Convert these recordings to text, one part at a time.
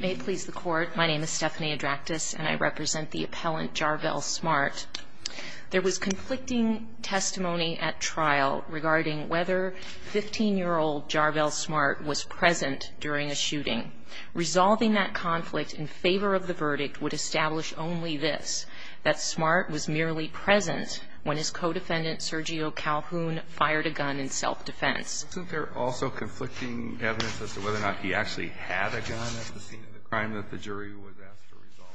May it please the court, my name is Stephanie Adractis and I represent the appellant Jarvell Smart. There was conflicting testimony at trial regarding whether 15-year-old Jarvell Smart was present during a shooting. Resolving that conflict in favor of the verdict would establish only this, that Smart was merely present when his co-defendant, Sergio Calhoun, fired a gun in self-defense. Isn't there also conflicting evidence as to whether or not he actually had a gun at the scene of the crime that the jury was asked to resolve?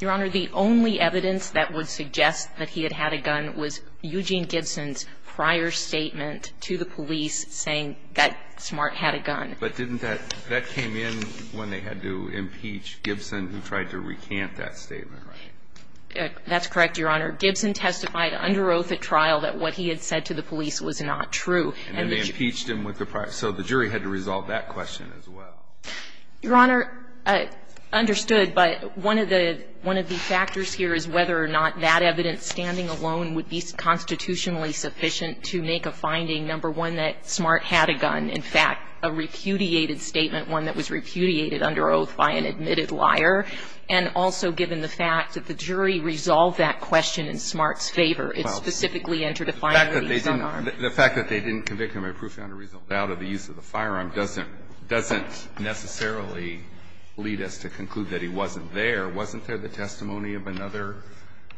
Your Honor, the only evidence that would suggest that he had had a gun was Eugene Gibson's prior statement to the police saying that Smart had a gun. But didn't that, that came in when they had to impeach Gibson who tried to recant that statement, right? That's correct, Your Honor. Gibson testified under oath at trial that what he had said to the police was not true. And then they impeached him with the prior. So the jury had to resolve that question as well. Your Honor, understood, but one of the factors here is whether or not that evidence standing alone would be constitutionally sufficient to make a finding, number one, that Smart had a gun, in fact, a repudiated statement, one that was repudiated under oath by an admitted liar, and also given the fact that the jury resolved that question in Smart's favor. It's specifically interdefinable. The fact that they didn't convict him of a profound or reasonable doubt of the use of the firearm doesn't necessarily lead us to conclude that he wasn't there. Wasn't there the testimony of another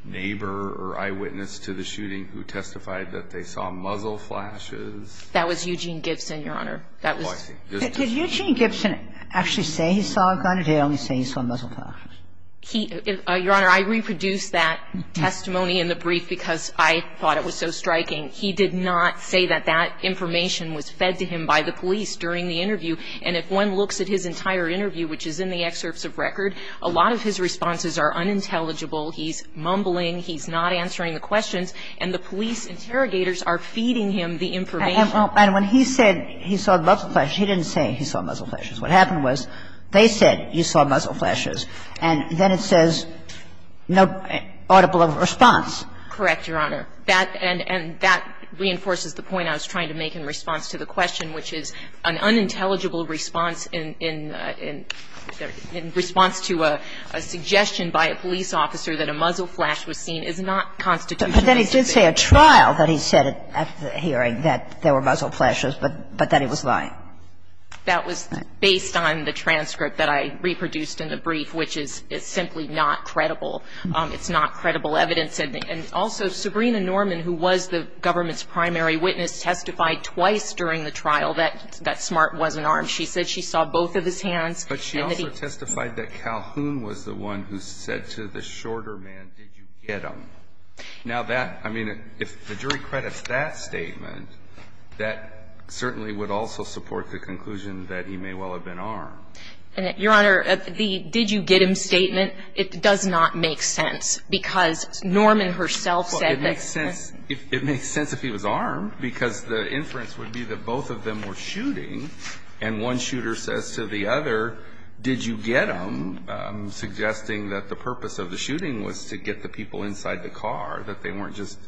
neighbor or eyewitness to the shooting who testified that they saw muzzle flashes? That was Eugene Gibson, Your Honor. That was. Did Eugene Gibson actually say he saw a gun or did he only say he saw muzzle flashes? Your Honor, I reproduced that testimony in the brief because I thought it was so striking. He did not say that that information was fed to him by the police during the interview. And if one looks at his entire interview, which is in the excerpts of record, a lot of his responses are unintelligible. He's mumbling. He's not answering the questions. And the police interrogators are feeding him the information. And when he said he saw muzzle flashes, he didn't say he saw muzzle flashes. What happened was they said you saw muzzle flashes, and then it says no audible response. Correct, Your Honor. That and that reinforces the point I was trying to make in response to the question, which is an unintelligible response in response to a suggestion by a police officer that a muzzle flash was seen is not constitutional. But then he did say a trial that he said at the hearing that there were muzzle flashes, but that he was lying. That was based on the transcript that I reproduced in the brief, which is simply not credible. It's not credible evidence. And also, Sabrina Norman, who was the government's primary witness, testified twice during the trial that Smart wasn't armed. She said she saw both of his hands. But she also testified that Calhoun was the one who said to the shorter man, did you get him? Now, that, I mean, if the jury credits that statement, that certainly would also support the conclusion that he may well have been armed. Your Honor, the did you get him statement, it does not make sense, because Norman herself said that. Well, it makes sense. It makes sense if he was armed, because the inference would be that both of them were shooting, and one shooter says to the other, did you get him, suggesting that the other shot was from the other side of the car, that they weren't just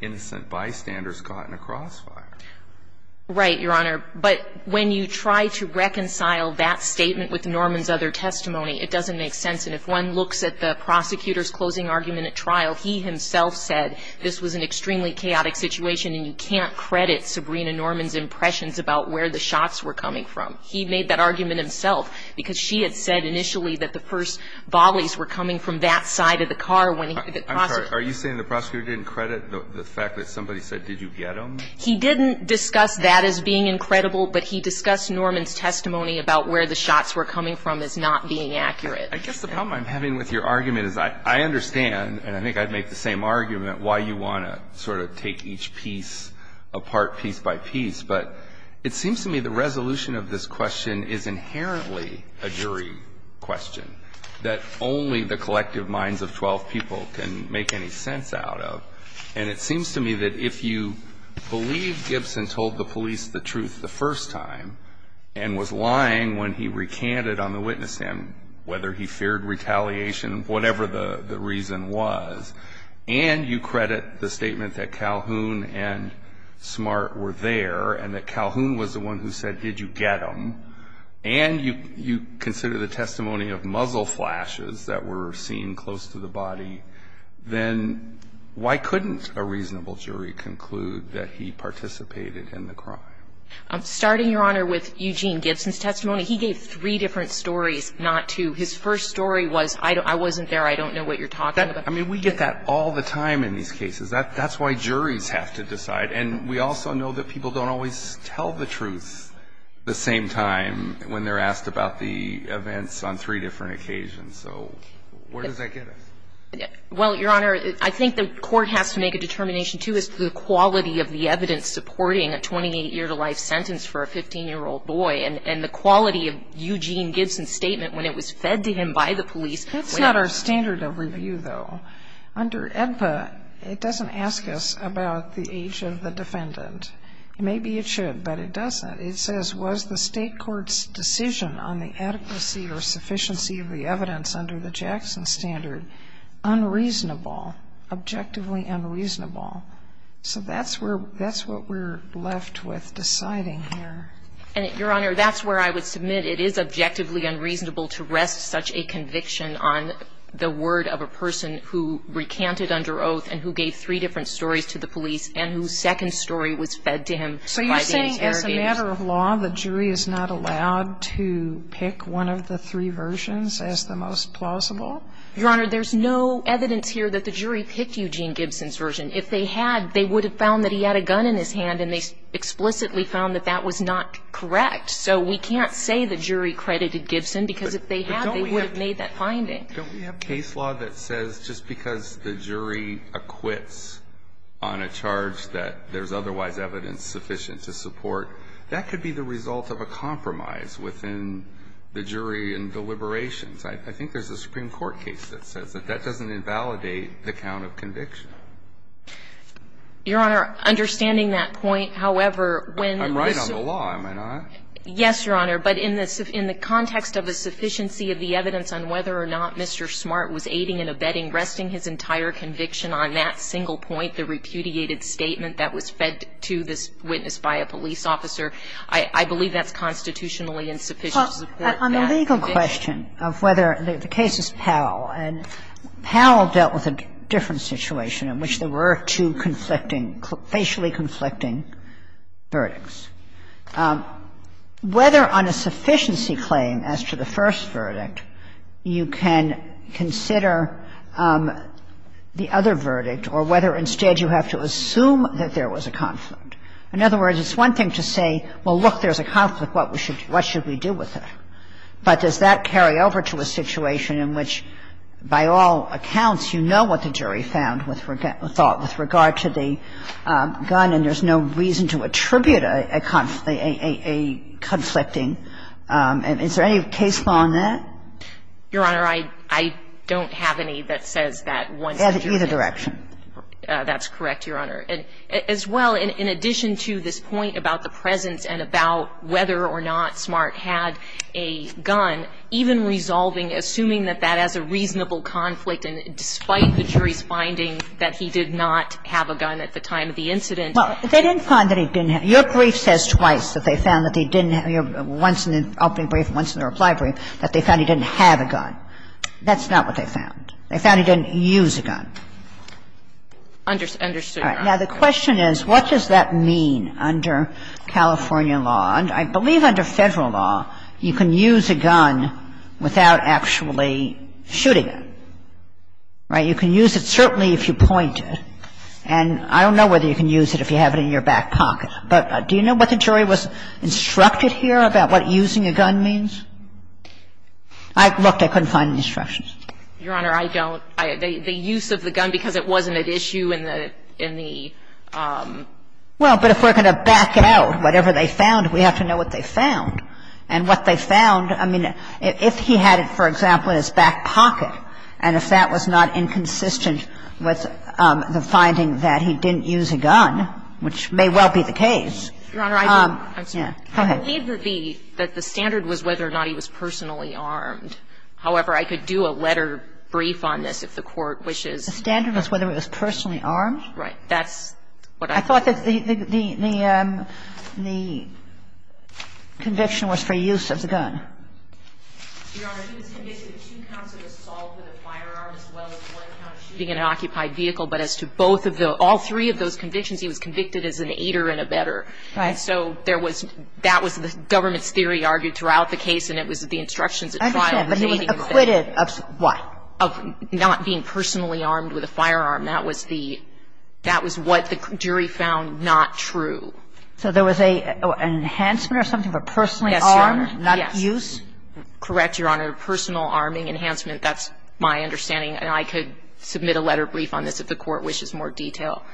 innocent bystanders caught in a crossfire. Right, Your Honor. But when you try to reconcile that statement with Norman's other testimony, it doesn't make sense. And if one looks at the prosecutor's closing argument at trial, he himself said this was an extremely chaotic situation and you can't credit Sabrina Norman's impressions about where the shots were coming from. He made that argument himself, because she had said initially that the first volleys were coming from that side of the car. I'm sorry. Are you saying the prosecutor didn't credit the fact that somebody said did you get him? He didn't discuss that as being incredible, but he discussed Norman's testimony about where the shots were coming from as not being accurate. I guess the problem I'm having with your argument is I understand, and I think I'd make the same argument, why you want to sort of take each piece apart piece by piece, but it seems to me the resolution of this question is inherently a jury question that only the collective minds of 12 people can make any sense out of. And it seems to me that if you believe Gibson told the police the truth the first time and was lying when he recanted on the witness stand, whether he feared retaliation, whatever the reason was, and you credit the statement that Calhoun and Smart were there, and that Calhoun was the one who said did you get him, and you consider the testimony of muzzle flashes that were seen close to the body, then why couldn't a reasonable jury conclude that he participated in the crime? Starting, Your Honor, with Eugene Gibson's testimony, he gave three different stories, not two. His first story was I wasn't there, I don't know what you're talking about. I mean, we get that all the time in these cases. That's why juries have to decide. And we also know that people don't always tell the truth the same time when they're asked about the events on three different occasions. So where does that get us? Well, Your Honor, I think the court has to make a determination, too, as to the quality of the evidence supporting a 28-year-to-life sentence for a 15-year-old boy and the quality of Eugene Gibson's statement when it was fed to him by the police. That's not our standard of review, though. Under AEDPA, it doesn't ask us about the age of the defendant. Maybe it should, but it doesn't. It says, was the State court's decision on the adequacy or sufficiency of the evidence under the Jackson standard unreasonable, objectively unreasonable? So that's where we're left with deciding here. And, Your Honor, that's where I would submit it is objectively unreasonable to rest such a conviction on the word of a person who recanted under oath and who gave three different stories to the police and whose second story was fed to him by the AEDPA. So you're saying, as a matter of law, the jury is not allowed to pick one of the three versions as the most plausible? Your Honor, there's no evidence here that the jury picked Eugene Gibson's version. If they had, they would have found that he had a gun in his hand, and they explicitly found that that was not correct. So we can't say the jury credited Gibson, because if they had, they would have made that finding. But don't we have case law that says just because the jury acquits on a charge that there's otherwise evidence sufficient to support, that could be the result of a compromise within the jury in deliberations. I think there's a Supreme Court case that says that. That doesn't invalidate the count of conviction. Your Honor, understanding that point, however, when the missile. I'm right on the law, am I not? Yes, Your Honor. But in the context of the sufficiency of the evidence on whether or not Mr. Smart was aiding and abetting, resting his entire conviction on that single point, the repudiated statement that was fed to this witness by a police officer, I believe that's constitutionally insufficient to support that. On the legal question of whether the case is Powell, and Powell dealt with a different situation in which there were two conflicting, facially conflicting verdicts. Whether on a sufficiency claim as to the first verdict, you can consider the other verdict or whether instead you have to assume that there was a conflict. In other words, it's one thing to say, well, look, there's a conflict. What should we do with it? But does that carry over to a situation in which, by all accounts, you know what the jury found with regard to the gun and there's no reason to attribute a conflict, a conflicting? And is there any case law on that? Your Honor, I don't have any that says that. Either direction. That's correct, Your Honor. And as well, in addition to this point about the presence and about whether or not Smart had a gun, even resolving, assuming that that has a reasonable conflict and despite the jury's finding that he did not have a gun at the time of the incident. Well, they didn't find that he didn't have. Your brief says twice that they found that he didn't have. Once in the opening brief and once in the reply brief that they found he didn't have a gun. That's not what they found. They found he didn't use a gun. Understood, Your Honor. All right. Now, the question is, what does that mean under California law? I believe under Federal law you can use a gun without actually shooting it. Right? You can use it certainly if you point it. And I don't know whether you can use it if you have it in your back pocket. But do you know what the jury was instructed here about what using a gun means? I looked. I couldn't find any instructions. Your Honor, I don't. The use of the gun because it wasn't at issue in the — in the — Well, but if we're going to back out whatever they found, we have to know what they found. And what they found, I mean, if he had it, for example, in his back pocket, and if that was not inconsistent with the finding that he didn't use a gun, which may well be the case. Your Honor, I don't. I'm sorry. Go ahead. I believe that the standard was whether or not he was personally armed. However, I could do a letter brief on this if the Court wishes. The standard was whether he was personally armed? Right. That's what I thought. I thought that the — the conviction was for use of the gun. Your Honor, he was convicted of two counts of assault with a firearm as well as one count of shooting in an occupied vehicle. But as to both of the — all three of those convictions, he was convicted as an aider and a better. Right. And so there was — that was the government's theory argued throughout the case, and it was the instructions at trial. I understand. But he was acquitted of what? Of not being personally armed with a firearm. That was the — that was what the jury found not true. So there was an enhancement or something for personally armed? Yes, Your Honor. Not use? Correct, Your Honor. Personal arming enhancement. That's my understanding. And I could submit a letter brief on this if the Court wishes more detail.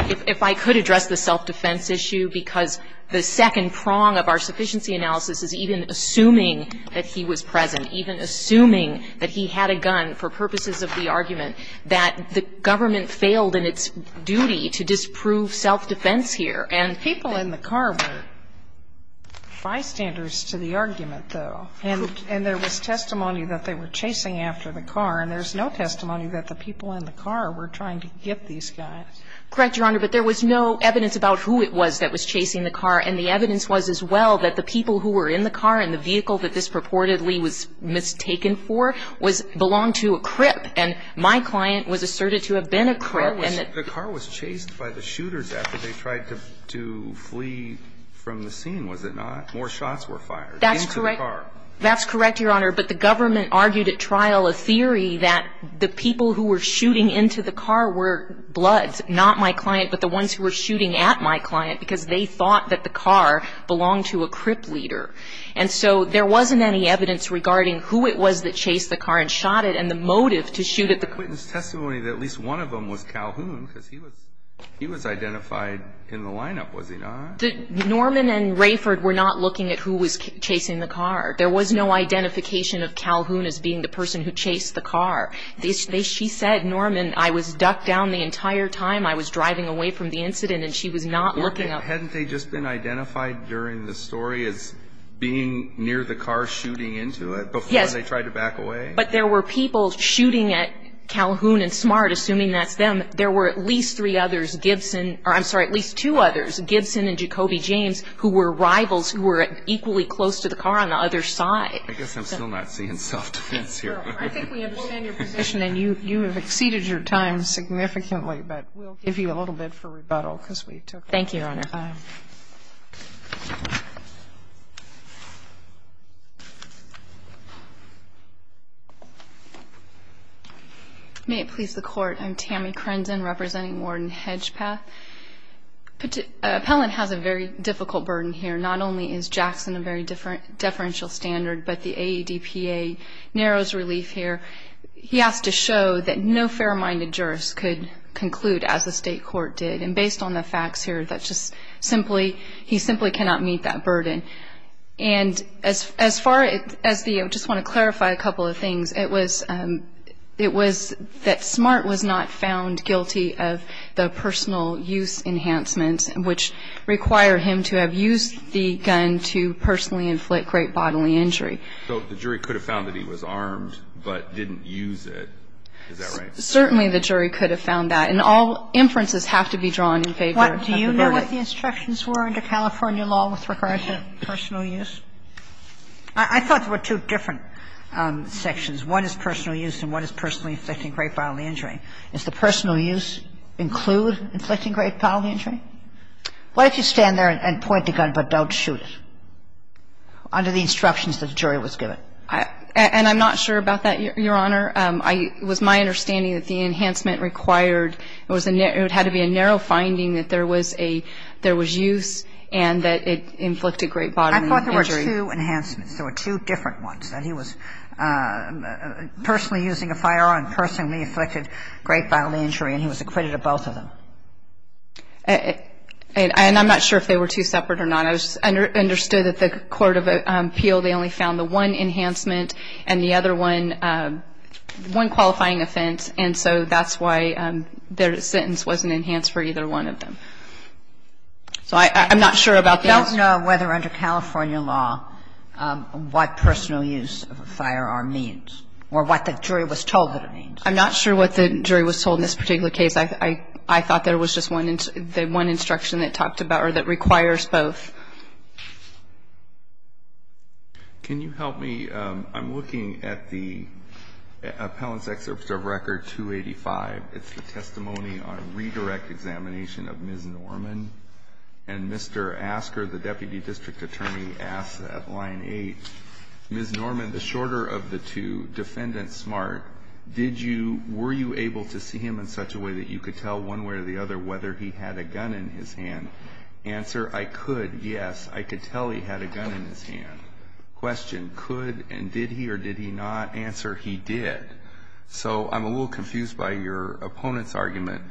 If I could address the self-defense issue, because the second prong of our sufficiency analysis is even assuming that he was present, even assuming that he had a gun for self-defense, that the government failed in its duty to disprove self-defense here. And people in the car were bystanders to the argument, though. And there was testimony that they were chasing after the car, and there's no testimony that the people in the car were trying to get these guys. Correct, Your Honor. But there was no evidence about who it was that was chasing the car, and the evidence was as well that the people who were in the car and the vehicle that this purportedly was mistaken for belonged to a crip. And my client was asserted to have been a crip. The car was chased by the shooters after they tried to flee from the scene, was it not? More shots were fired into the car. That's correct, Your Honor. But the government argued at trial a theory that the people who were shooting into the car were bloods, not my client, but the ones who were shooting at my client, because they thought that the car belonged to a crip leader. And so there wasn't any evidence regarding who it was that chased the car and shot it, and the motive to shoot at the crip. There's testimony that at least one of them was Calhoun, because he was identified in the lineup, was he not? Norman and Rayford were not looking at who was chasing the car. There was no identification of Calhoun as being the person who chased the car. She said, Norman, I was ducked down the entire time. I was driving away from the incident, and she was not looking up. Hadn't they just been identified during the story as being near the car, shooting into it, before they tried to back away? Yes, but there were people shooting at Calhoun and Smart, assuming that's them. There were at least three others, Gibson or I'm sorry, at least two others, Gibson and Jacoby James, who were rivals who were equally close to the car on the other side. I guess I'm still not seeing self-defense here. I think we understand your position, and you have exceeded your time significantly, Thank you, Your Honor. May it please the Court. I'm Tammy Crenson, representing Warden Hedgepeth. Appellant has a very difficult burden here. Not only is Jackson a very deferential standard, but the AEDPA narrows relief here. He has to show that no fair-minded jurist could conclude, as the state court did. And based on the facts here, he simply cannot meet that burden. And I just want to clarify a couple of things. It was that Smart was not found guilty of the personal use enhancements, which require him to have used the gun to personally inflict great bodily injury. So the jury could have found that he was armed, but didn't use it. Is that right? Certainly the jury could have found that. And all inferences have to be drawn in favor of the verdict. Do you know what the instructions were under California law with regard to personal use? I thought there were two different sections. One is personal use and one is personally inflicting great bodily injury. Does the personal use include inflicting great bodily injury? What if you stand there and point the gun, but don't shoot it under the instructions that the jury was given? And I'm not sure about that, Your Honor. It was my understanding that the enhancement required, it had to be a narrow finding that there was use and that it inflicted great bodily injury. I thought there were two enhancements. There were two different ones, that he was personally using a firearm and personally inflicted great bodily injury, and he was acquitted of both of them. And I'm not sure if they were two separate or not. I understood that the court of appeal, they only found the one enhancement and the other one, one qualifying offense. And so that's why their sentence wasn't enhanced for either one of them. So I'm not sure about that. I don't know whether under California law what personal use of a firearm means or what the jury was told that it means. I'm not sure what the jury was told in this particular case. I thought there was just one instruction that talked about or that requires a firearm. Can you help me? I'm looking at the Appellant's Excerpt of Record 285. It's the testimony on redirect examination of Ms. Norman. And Mr. Asker, the Deputy District Attorney, asks at line 8, Ms. Norman, the shorter of the two, defendant smart, did you, were you able to see him in such a way that you could tell one way or the other whether he had a gun in his hand? Answer, I could, yes. I could tell he had a gun in his hand. Question, could and did he or did he not? Answer, he did. So I'm a little confused by your opponent's argument.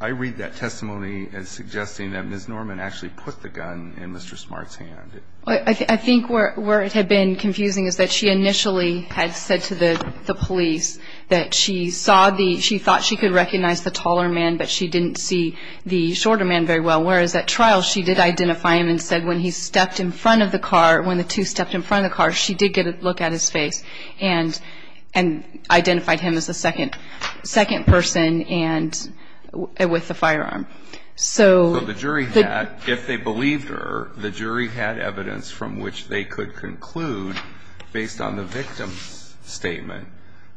I read that testimony as suggesting that Ms. Norman actually put the gun in Mr. Smart's hand. I think where it had been confusing is that she initially had said to the police that she saw the, she thought she could recognize the taller man, but she didn't see the shorter man very well. Whereas at trial she did identify him and said when he stepped in front of the car, when the two stepped in front of the car, she did get a look at his face and identified him as the second person and with the firearm. So the jury had, if they believed her, the jury had evidence from which they could conclude based on the victim's statement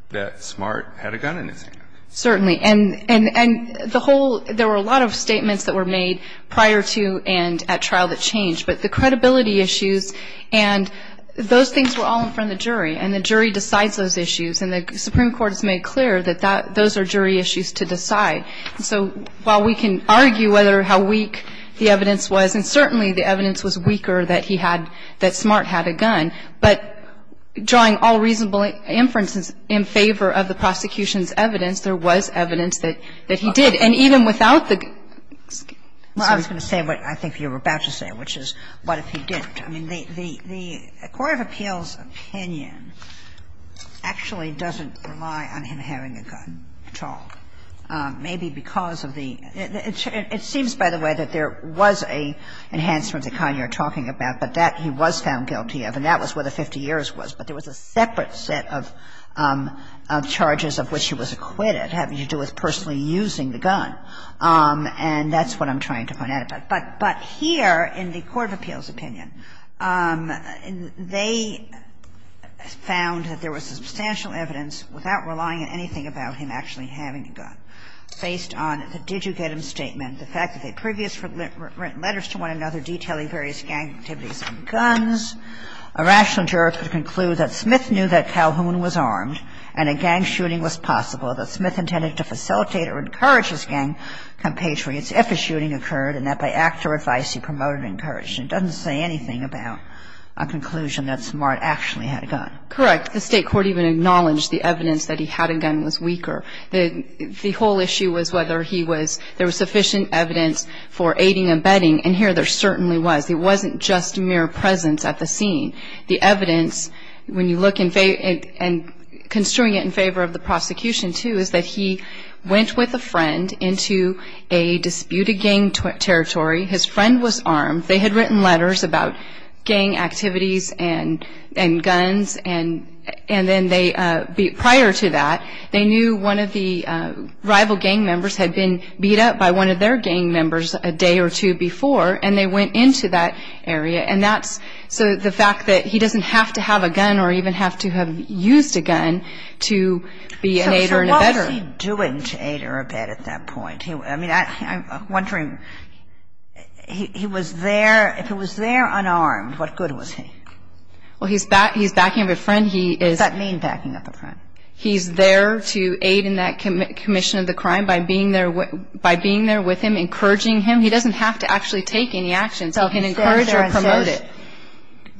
that Smart had a gun in his hand. Certainly. And the whole, there were a lot of statements that were made prior to and at trial that changed. But the credibility issues and those things were all in front of the jury. And the jury decides those issues. And the Supreme Court has made clear that those are jury issues to decide. So while we can argue whether or how weak the evidence was, and certainly the evidence was weaker that he had, that Smart had a gun, but drawing all reasonable inferences in favor of the prosecution's evidence, there was evidence that he did. And even without the excuse. Well, I was going to say what I think you were about to say, which is what if he didn't? I mean, the Court of Appeals' opinion actually doesn't rely on him having a gun at all, maybe because of the – it seems, by the way, that there was an enhancement that, Connie, you're talking about, but that he was found guilty of. And that was where the 50 years was. But there was a separate set of charges of which he was acquitted having to do with personally using the gun. And that's what I'm trying to point out. But here in the Court of Appeals' opinion, they found that there was substantial evidence without relying on anything about him actually having a gun based on the did-you-get-him statement, the fact that they previously had written letters to one It said that there was insufficient evidence for aiding and abetting activities on guns. A rational juror could conclude that Smith knew that Calhoun was armed and a gang shooting was possible, that Smith intended to facilitate or encourage his gang compatriots if a shooting occurred, and that by act or advice, he promoted and encouraged. It doesn't say anything about a conclusion that Smart actually had a gun. Correct. The State court even acknowledged the evidence that he had a gun was weaker. The whole issue was whether he was, there was sufficient evidence for aiding and abetting, and here there certainly was. It wasn't just mere presence at the scene. The evidence, when you look and construe it in favor of the prosecution, too, is that he went with a friend into a disputed gang territory. His friend was armed. They had written letters about gang activities and guns, and then they, prior to that, they knew one of the rival gang members had been beat up by one of their gang members a day or two before, and they went into that area. And that's, so the fact that he doesn't have to have a gun or even have to have used a gun to be an aider and abetter. So what was he doing to aid or abet at that point? I mean, I'm wondering, he was there. If he was there unarmed, what good was he? Well, he's backing up a friend. He is. What does that mean, backing up a friend? He's there to aid in that commission of the crime by being there with him, encouraging him. He doesn't have to actually take any actions. He can encourage or promote it.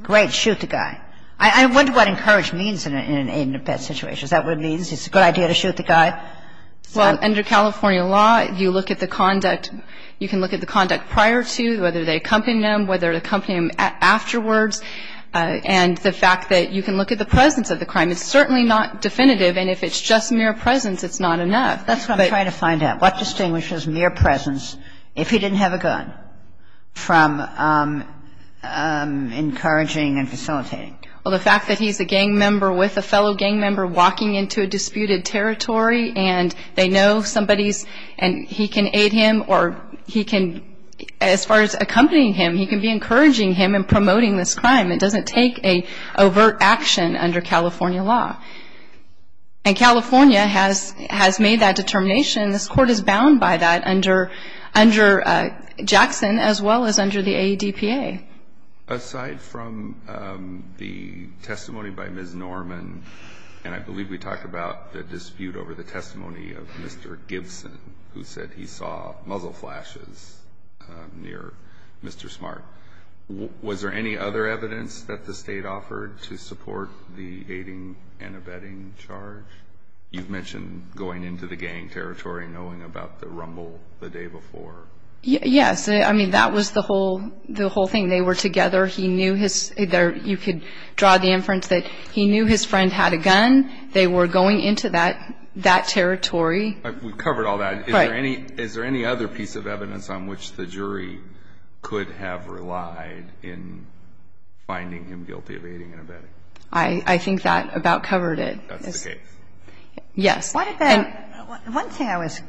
Great. Shoot the guy. I wonder what encourage means in an aid and abet situation. Is that what it means? It's a good idea to shoot the guy? Well, under California law, you look at the conduct. You can look at the conduct prior to, whether they accompanied him, whether they accompanied him afterwards. And the fact that you can look at the presence of the crime, it's certainly not definitive. And if it's just mere presence, it's not enough. That's what I'm trying to find out. What distinguishes mere presence, if he didn't have a gun, from encouraging and facilitating? Well, the fact that he's a gang member with a fellow gang member walking into a disputed territory and they know somebody's and he can aid him or he can, as far as accompanying him, he can be encouraging him and promoting this crime. It doesn't take an overt action under California law. And California has made that determination. This Court is bound by that under Jackson as well as under the AEDPA. Aside from the testimony by Ms. Norman, and I believe we talked about the dispute over the testimony of Mr. Gibson, who said he saw muzzle flashes near Mr. Smart, was there any other evidence that the State offered to support the aiding and abetting charge? You've mentioned going into the gang territory and knowing about the rumble the day before. Yes. I mean, that was the whole thing. They were together. He knew his – you could draw the inference that he knew his friend had a gun. They were going into that territory. We've covered all that. Right. Is there any other piece of evidence on which the jury could have relied in finding him guilty of aiding and abetting? I think that about covered it. That's the case. Yes. One thing I was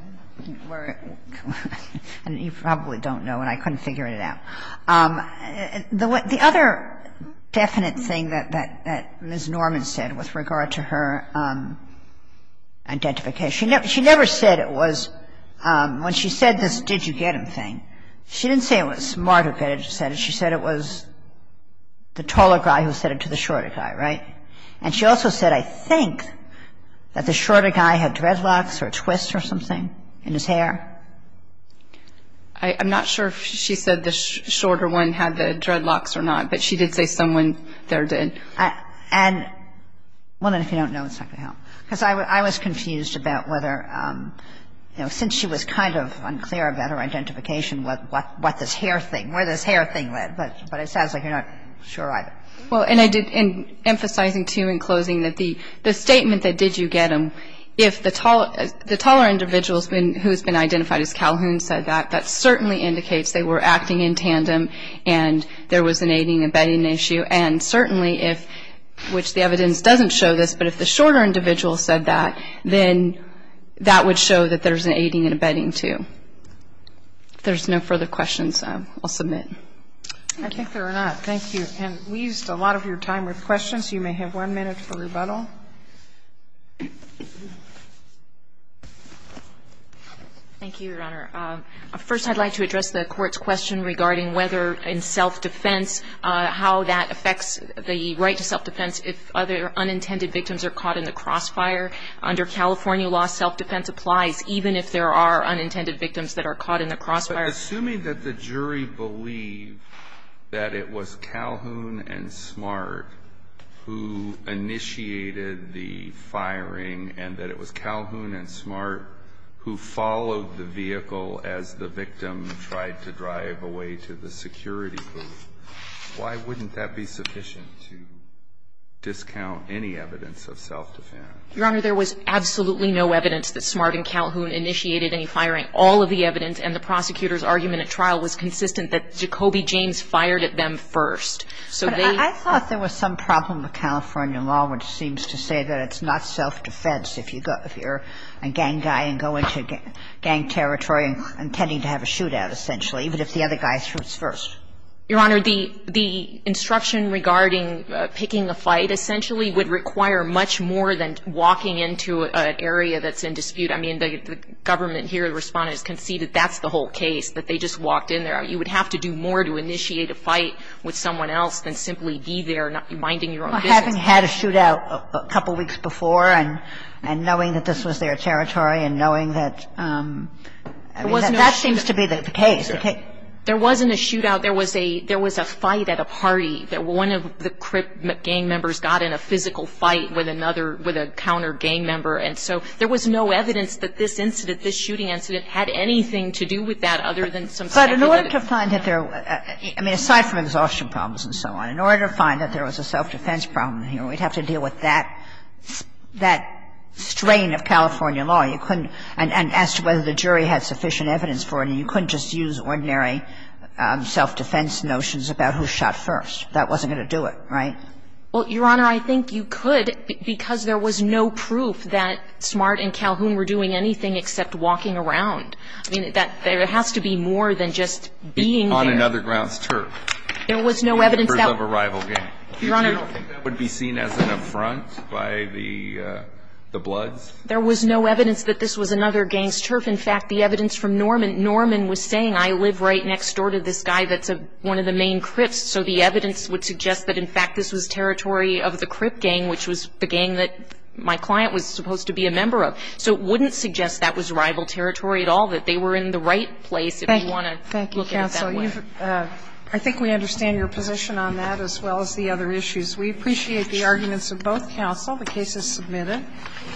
– you probably don't know, and I couldn't figure it out. The other definite thing that Ms. Norman said with regard to her identification, she never said it was – when she said this did you get him thing, she didn't say it was Smart who said it. She said it was the taller guy who said it to the shorter guy, right? And she also said, I think, that the shorter guy had dreadlocks or a twist or something in his hair. I'm not sure if she said the shorter one had the dreadlocks or not, but she did say someone there did. And – well, then, if you don't know, it's not going to help. Because I was confused about whether – you know, since she was kind of unclear about her identification, what this hair thing – where this hair thing led. But it sounds like you're not sure either. Well, and I did – and emphasizing, too, in closing, that the statement that did you get him, if the taller individual has been – who has been identified as Calhoun said that, that certainly indicates they were acting in tandem and there was an aiding and abetting issue. And certainly if – which the evidence doesn't show this, but if the shorter individual said that, then that would show that there's an aiding and abetting, too. If there's no further questions, I'll submit. I think there are not. Thank you. And we used a lot of your time with questions. You may have one minute for rebuttal. Thank you, Your Honor. First, I'd like to address the Court's question regarding whether in self-defense how that affects the right to self-defense if other unintended victims are caught in the crossfire. Under California law, self-defense applies even if there are unintended victims that are caught in the crossfire. Assuming that the jury believed that it was Calhoun and Smart who initiated the firing and that it was Calhoun and Smart who followed the vehicle as the victim tried to drive away to the security booth, why wouldn't that be sufficient to discount any evidence of self-defense? Your Honor, there was absolutely no evidence that Smart and Calhoun initiated any firing. All of the evidence and the prosecutor's argument at trial was consistent that Jacoby James fired at them first. So they ---- But I thought there was some problem with California law which seems to say that it's not self-defense if you're a gang guy and go into gang territory intending to have a shootout, essentially, even if the other guy shoots first. Your Honor, the instruction regarding picking a fight essentially would require much more than walking into an area that's in dispute. I mean, the government here, the Respondents, conceded that's the whole case, that they just walked in there. You would have to do more to initiate a fight with someone else than simply be there and not be minding your own business. Well, having had a shootout a couple weeks before and knowing that this was their territory and knowing that ---- There wasn't a shootout. That seems to be the case. There wasn't a shootout. There was a fight at a party that one of the crip gang members got in a physical fight with another ---- with a counter gang member. And so there was no evidence that this incident, this shooting incident, had anything to do with that other than some speculative evidence. But in order to find that there was ---- I mean, aside from exhaustion problems and so on, in order to find that there was a self-defense problem here, we'd have to deal with that strain of California law. You couldn't ---- and as to whether the jury had sufficient evidence for it, you couldn't just use ordinary self-defense notions about who shot first. That wasn't going to do it, right? Well, Your Honor, I think you could because there was no proof that Smart and Calhoun were doing anything except walking around. I mean, that there has to be more than just being there. On another grounds turf. There was no evidence that ---- Members of a rival gang. Your Honor, I don't think that would be seen as an affront by the bloods. There was no evidence that this was another gang's turf. In fact, the evidence from Norman. Norman was saying, I live right next door to this guy that's one of the main crips, so the evidence would suggest that, in fact, this was territory of the crip gang, which was the gang that my client was supposed to be a member of. So it wouldn't suggest that was rival territory at all, that they were in the right place if you want to look at it that way. Thank you, counsel. I think we understand your position on that as well as the other issues. We appreciate the arguments of both counsel. The case is submitted.